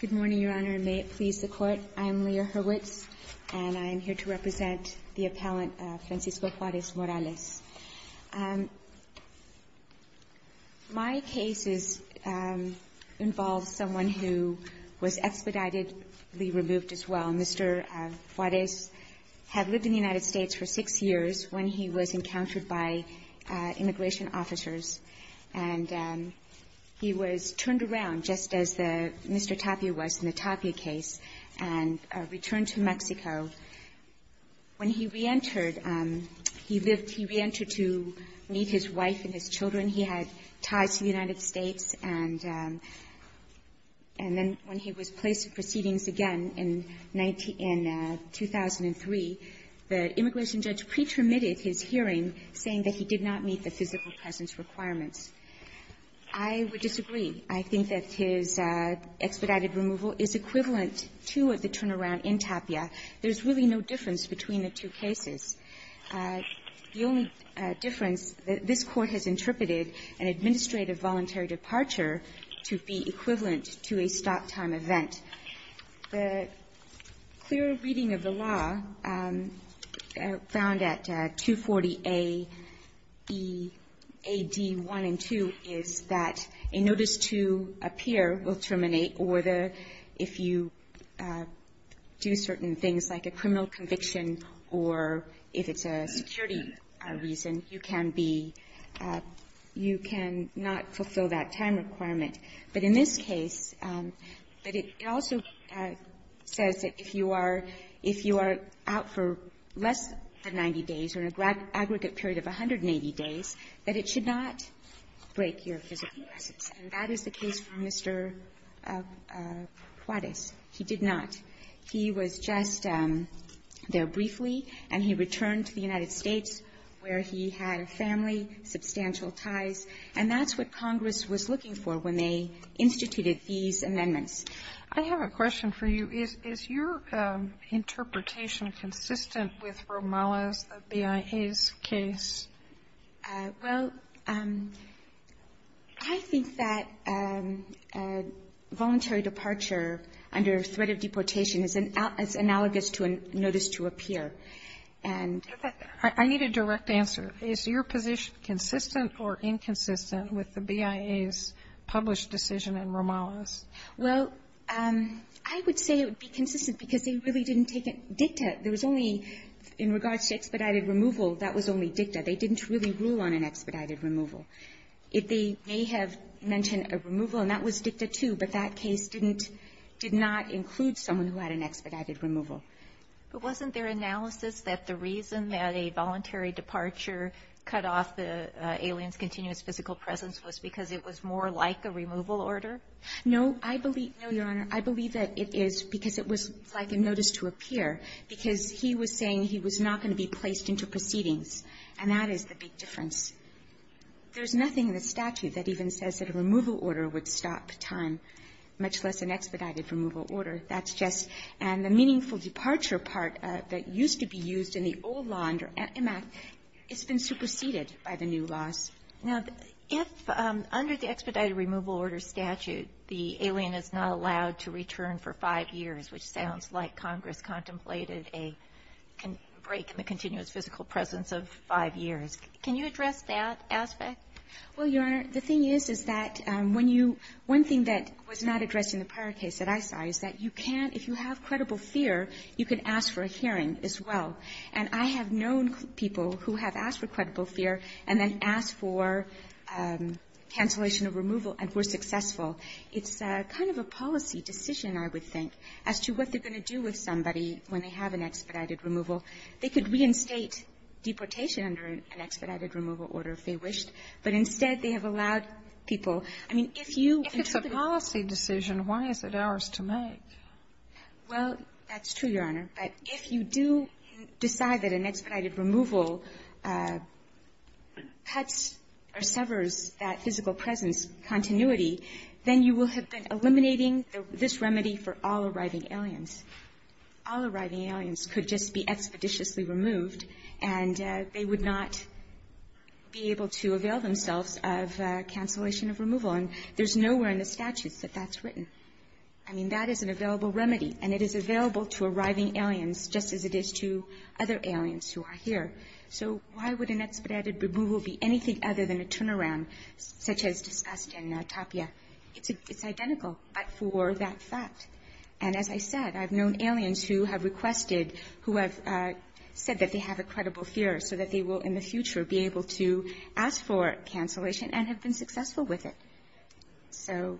Good morning, Your Honor, and may it please the Court, I am Leah Hurwitz, and I am here to represent the appellant Francisco Juarez-Morales. My case involves someone who was expeditedly removed as well. Mr. Juarez had lived in the United States for six years when he was encountered by immigration officers, and he was turned around, just as Mr. Tapia was in the Tapia case, and returned to Mexico. When he reentered, he lived he reentered to meet his wife and his children. He had ties to the United States, and then when he was placed in proceedings again in 2003, the immigration judge pre-terminated his hearing, saying that he did not meet the physical presence requirements. I would disagree. I think that his expedited removal is equivalent to the turnaround in Tapia. There's really no difference between the two cases. The only difference, this Court has interpreted an administrative voluntary departure to be equivalent to a stop-time event. The clear reading of the law found at 240A, I think, is that there is no difference between the AD 1 and 2, is that a notice to appear will terminate, or the – if you do certain things like a criminal conviction or if it's a security reason, you can be – you can not fulfill that time requirement. But in this case – but it also says that if you are – if you are out for less than 90 days or an aggregate period of 180 days, that it should not break your physical presence. And that is the case for Mr. Juarez. He did not. He was just there briefly, and he returned to the United States where he had a family, substantial ties. And that's what Congress was looking for when they instituted these amendments. I have a question for you. Is your interpretation consistent with Romales, the BIA's case? Well, I think that voluntary departure under threat of deportation is analogous to a notice to appear. And – I need a direct answer. Is your position consistent or inconsistent with the BIA's published decision in Romales? Well, I would say it would be consistent because they really didn't take a dicta. There was only – in regards to expedited removal, that was only dicta. They didn't really rule on an expedited removal. They may have mentioned a removal, and that was dicta too, but that case didn't – did not include someone who had an expedited removal. But wasn't their analysis that the reason that a voluntary departure cut off the alien's continuous physical presence was because it was more like a removal order? No. I believe – no, Your Honor. I believe that it is because it was like a notice to appear, because he was saying he was not going to be placed into proceedings, and that is the big difference. There's nothing in the statute that even says that a removal order would stop time, much less an expedited removal order. That's just – and the meaningful departure part that used to be used in the old law under EMAC, it's been superseded by the new laws. Now, if under the expedited removal order statute, the alien is not allowed to return for five years, which sounds like Congress contemplated a break in the continuous physical presence of five years, can you address that aspect? Well, Your Honor, the thing is, is that when you – one thing that was not addressed in the prior case that I saw is that you can't – if you have credible fear, you can ask for a hearing as well. And I have known people who have asked for credible fear and then asked for cancellation of removal and were successful. It's kind of a policy decision, I would think, as to what they're going to do with somebody when they have an expedited removal. They could reinstate deportation under an expedited removal order if they wished, but instead they have allowed people – I mean, if you – If it's a policy decision, why is it ours to make? Well, that's true, Your Honor. But if you do decide that an expedited removal cuts or severs that physical presence continuity, then you will have been eliminating this remedy for all arriving aliens. All arriving aliens could just be expeditiously removed, and they would not be able to avail themselves of cancellation of removal. And there's nowhere in the statutes that that's written. I mean, that is an available remedy, and it is available to arriving aliens just as it is to other aliens who are here. So why would an expedited removal be anything other than a turnaround, such as discussed in Tapia? It's identical, but for that fact. And as I said, I've known aliens who have requested – who have said that they have a credible fear so that they will, in the future, be able to ask for cancellation and have been successful with it. So,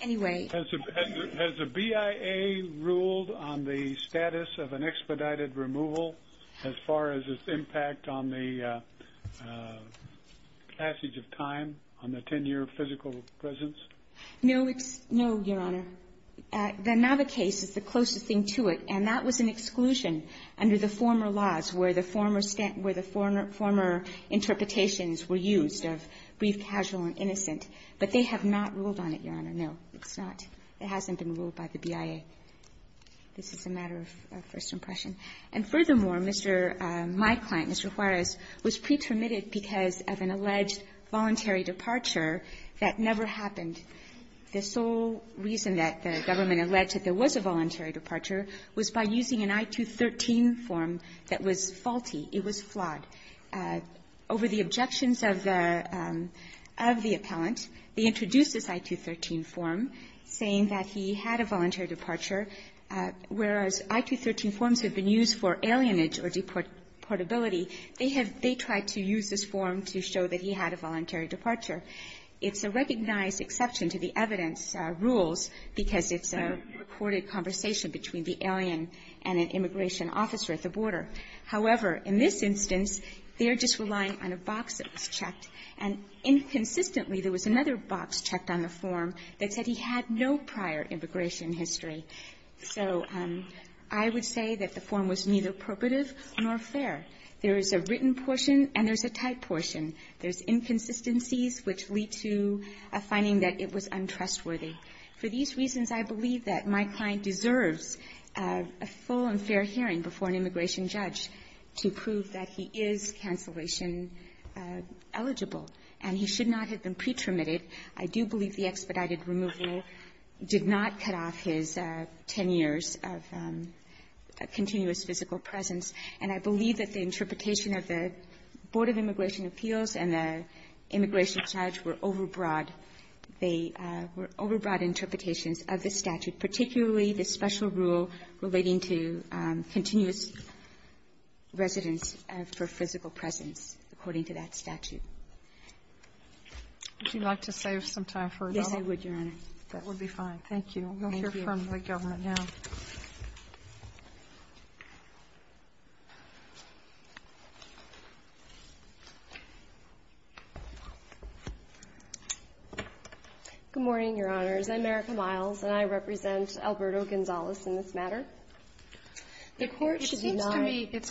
anyway. Has the BIA ruled on the status of an expedited removal as far as its impact on the passage of time on the 10-year physical presence? No, Your Honor. The NAVA case is the closest thing to it, and that was an exclusion under the former laws where the former interpretations were used of brief, casual, and innocent. But they have not ruled on it, Your Honor. No, it's not. It hasn't been ruled by the BIA. This is a matter of first impression. And furthermore, Mr. – my client, Mr. Juarez, was pre-termitted because of an alleged voluntary departure that never happened. The sole reason that the government alleged that there was a voluntary departure was by using an I-213 form that was faulty. It was flawed. Over the objections of the – of the appellant, they introduced this I-213 form, saying that he had a voluntary departure, whereas I-213 forms have been used for alienage or deportability. They have – they tried to use this form to show that he had a voluntary departure. It's a recognized exception to the evidence rules because it's a recorded conversation between the alien and an immigration officer at the border. However, in this instance, they're just relying on a box that was checked. And inconsistently, there was another box checked on the form that said he had no prior immigration history. So I would say that the form was neither purportive nor fair. There is a written portion and there's a typed portion. There's inconsistencies which lead to a finding that it was untrustworthy. For these reasons, I believe that my client deserves a full and fair hearing before an immigration judge to prove that he is cancellation eligible and he should not have been pre-terminated. I do believe the expedited removal did not cut off his 10 years of continuous physical presence. And I believe that the interpretation of the Board of Immigration Appeals and the immigration judge were overbroad. They were overbroad interpretations of the statute, particularly the special rule relating to continuous residence for physical presence, according to that statute. Would you like to save some time for another? Yes, I would, Your Honor. That would be fine. Thank you. We'll hear from the government now. Good morning, Your Honors. I'm Erica Miles, and I represent Alberto Gonzales in this matter. The Court should deny the court's decision. Sotomayor, it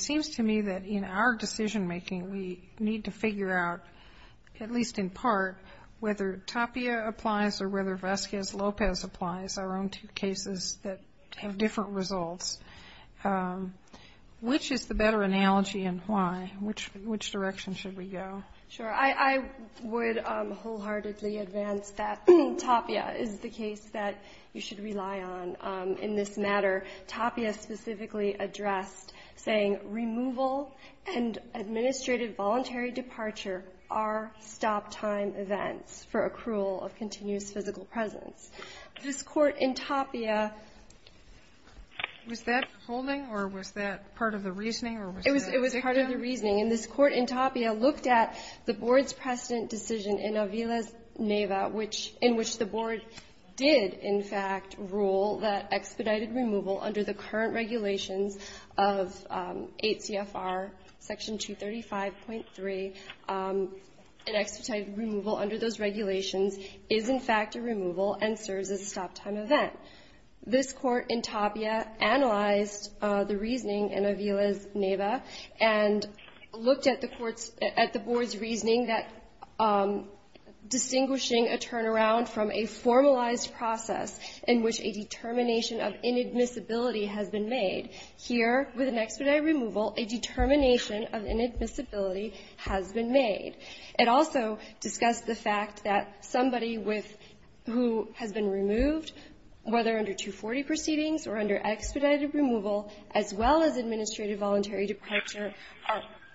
seems to me that in our decision-making, we need to figure out, at least in part, whether Tapia applies or whether Vazquez-Lopez applies, our own two cases that have different results. Which is the better analogy and why? Which direction should we go? Sure. I would wholeheartedly advance that Tapia is the case that you should rely on in this matter. Tapia specifically addressed saying, removal and administrative voluntary departure are stop-time events for accrual of continuous physical presence. This Court in Tapia ---- Was that holding, or was that part of the reasoning, or was that a dictum? It was part of the reasoning. And this Court in Tapia looked at the Board's precedent decision in Aviles-Neva, in which the Board did, in fact, rule that expedited removal under the current regulations is, in fact, a removal and serves as a stop-time event. This Court in Tapia analyzed the reasoning in Aviles-Neva and looked at the Board's reasoning that distinguishing a turnaround from a formalized process in which a determination of inadmissibility has been made, here, with an expedited removal, a determination of inadmissibility has been made. It also discussed the fact that somebody with who has been removed, whether under 240 proceedings or under expedited removal, as well as administrative voluntary departure,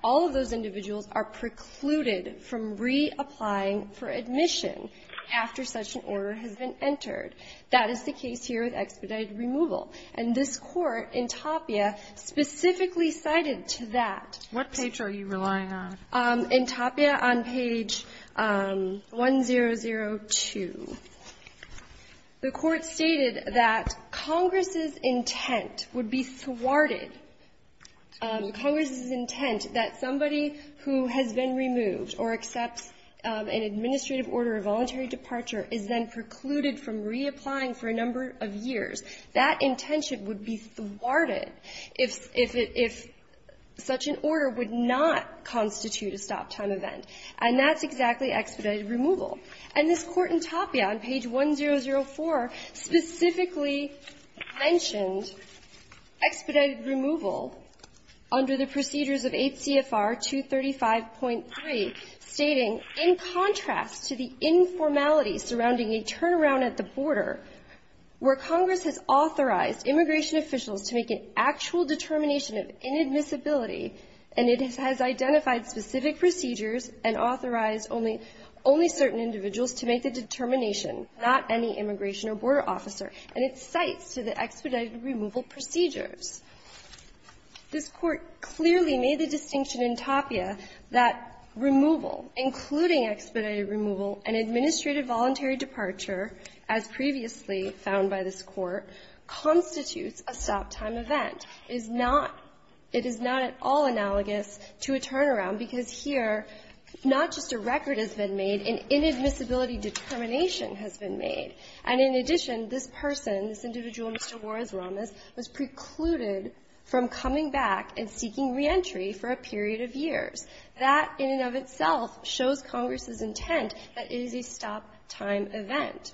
all of those individuals are precluded from reapplying for admission after such an order has been entered. That is the case here with expedited removal. And this Court in Tapia specifically cited to that. What page are you relying on? In Tapia, on page 1002. The Court stated that Congress's intent would be thwarted, Congress's intent that somebody who has been removed or accepts an administrative order of voluntary detention would be thwarted if such an order would not constitute a stop-time event, and that's exactly expedited removal. And this Court in Tapia on page 1004 specifically mentioned expedited removal under the procedures of 8 CFR 235.3, stating, in contrast to the informality surrounding a turnaround at the border, where Congress has authorized immigration officials to make an actual determination of inadmissibility, and it has identified specific procedures and authorized only certain individuals to make the determination, not any immigration or border officer. And it cites to the expedited removal procedures. This Court clearly made the distinction in Tapia that removal, including expedited removal, and administrative voluntary departure, as previously found by this Court, constitutes a stop-time event. It is not at all analogous to a turnaround because here not just a record has been made, an inadmissibility determination has been made. And in addition, this person, this individual, Mr. Juarez-Ramas, was precluded from coming back and seeking reentry for a period of years. That in and of itself shows Congress's intent that it is a stop-time event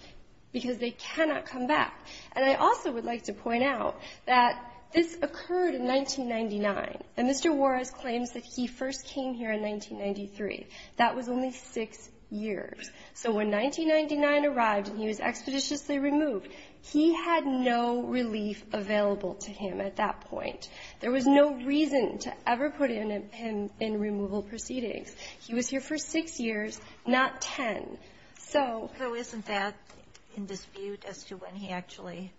because they cannot come back. And I also would like to point out that this occurred in 1999, and Mr. Juarez claims that he first came here in 1993. That was only six years. So when 1999 arrived and he was expeditiously removed, he had no relief available to him at that point. There was no reason to ever put him in removal proceedings. He was here for six years, not ten. So isn't that in dispute as to when he actually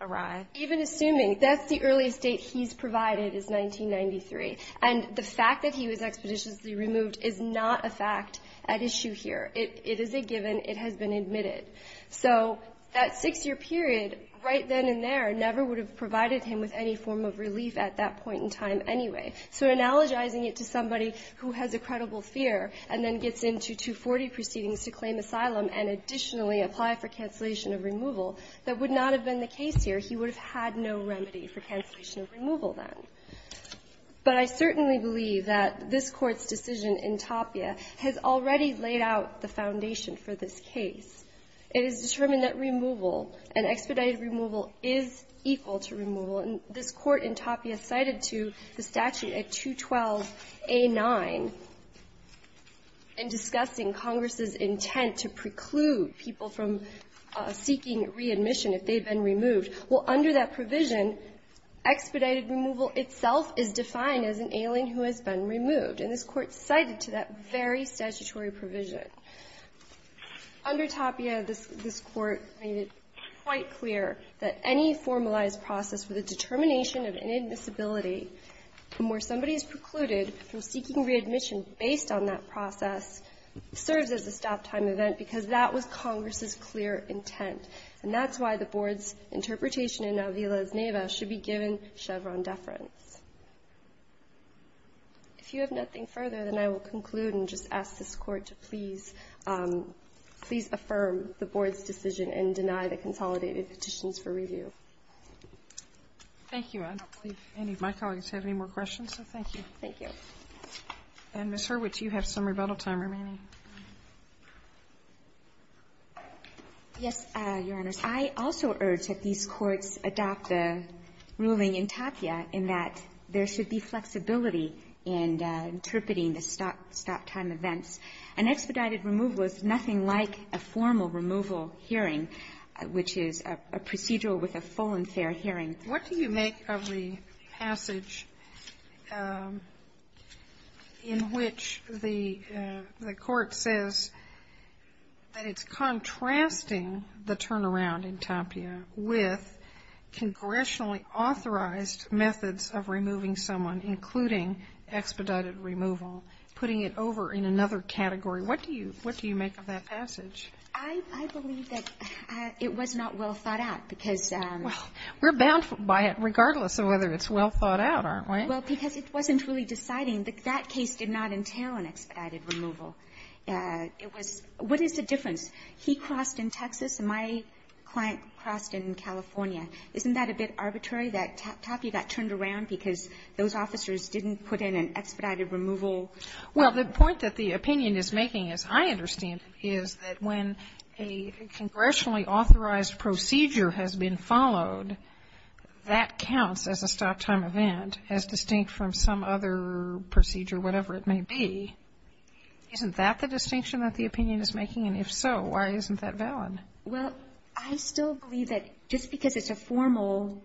arrived? Even assuming, that's the earliest date he's provided is 1993. And the fact that he was expeditiously removed is not a fact at issue here. It is a given. It has been admitted. So that six-year period, right then and there, never would have provided him with any form of relief at that point in time anyway. So analogizing it to somebody who has a credible fear and then gets into 240 proceedings to claim asylum and additionally apply for cancellation of removal, that would not have been the case here. He would have had no remedy for cancellation of removal then. But I certainly believe that this Court's decision in Tapia has already laid out the foundation for this case. It is determined that removal, an expedited removal, is equal to removal. And this Court in Tapia cited to the statute at 212a9 in discussing Congress's intent to preclude people from seeking readmission if they had been removed. Well, under that provision, expedited removal itself is defined as an alien who has been removed, and this Court cited to that very statutory provision. Under Tapia, this Court made it quite clear that any formalized process with a determination of inadmissibility from where somebody is precluded from seeking readmission based on that process serves as a stop-time event, because that was Congress's clear intent. And that's why the Board's interpretation in Avila v. Neva should be given Chevron deference. If you have nothing further, then I will conclude and just ask this Court to please affirm the Board's decision and deny the consolidated petitions for review. Thank you. I don't believe any of my colleagues have any more questions, so thank you. Thank you. And, Ms. Hurwitz, you have some rebuttal time remaining. Yes, Your Honor. I also urge that these courts adopt the ruling in Tapia in that there should be flexibility in interpreting the stop-time events. An expedited removal is nothing like a formal removal hearing, which is a procedural with a full and fair hearing. What do you make of the passage in which the court says that it's contrasting the turnaround in Tapia with congressionally authorized methods of removing someone, including expedited removal, putting it over in another category? What do you make of that passage? I believe that it was not well thought out, because we're bound for a hearing regardless of whether it's well thought out, aren't we? Well, because it wasn't really deciding. That case did not entail an expedited removal. It was what is the difference? He crossed in Texas and my client crossed in California. Isn't that a bit arbitrary that Tapia got turned around because those officers didn't put in an expedited removal? Well, the point that the opinion is making, as I understand it, is that when a congressionally authorized procedure has been followed, that counts as a stop-time event as distinct from some other procedure, whatever it may be. Isn't that the distinction that the opinion is making? And if so, why isn't that valid? Well, I still believe that just because it's a formal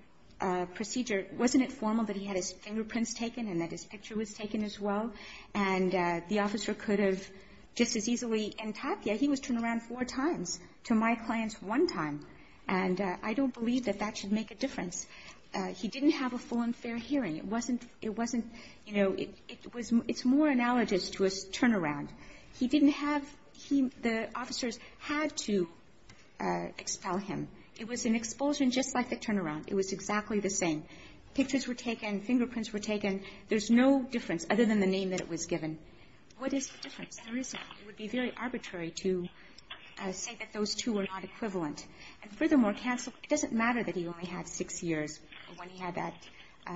procedure, wasn't it formal that he had his fingerprints taken and that his picture was taken as well? And the officer could have just as easily in Tapia, he was turned around four times to my client's one time. And I don't believe that that should make a difference. He didn't have a full and fair hearing. It wasn't, you know, it's more analogous to a turnaround. He didn't have, the officers had to expel him. It was an expulsion just like the turnaround. It was exactly the same. Pictures were taken, fingerprints were taken. What is the difference? There is a difference. It would be very arbitrary to say that those two are not equivalent. And furthermore, it doesn't matter that he only had six years when he had that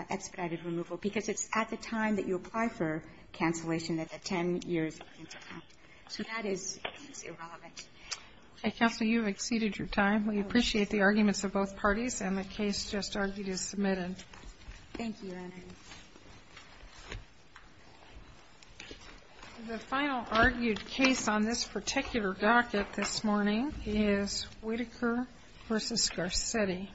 expedited removal, because it's at the time that you apply for cancellation that the ten years are counted. So that is irrelevant. Okay. Counsel, you have exceeded your time. We appreciate the arguments of both parties, and the case just argued is submitted. Thank you, Your Honor. Thank you. The final argued case on this particular bracket this morning is Whitaker v. Garcetti.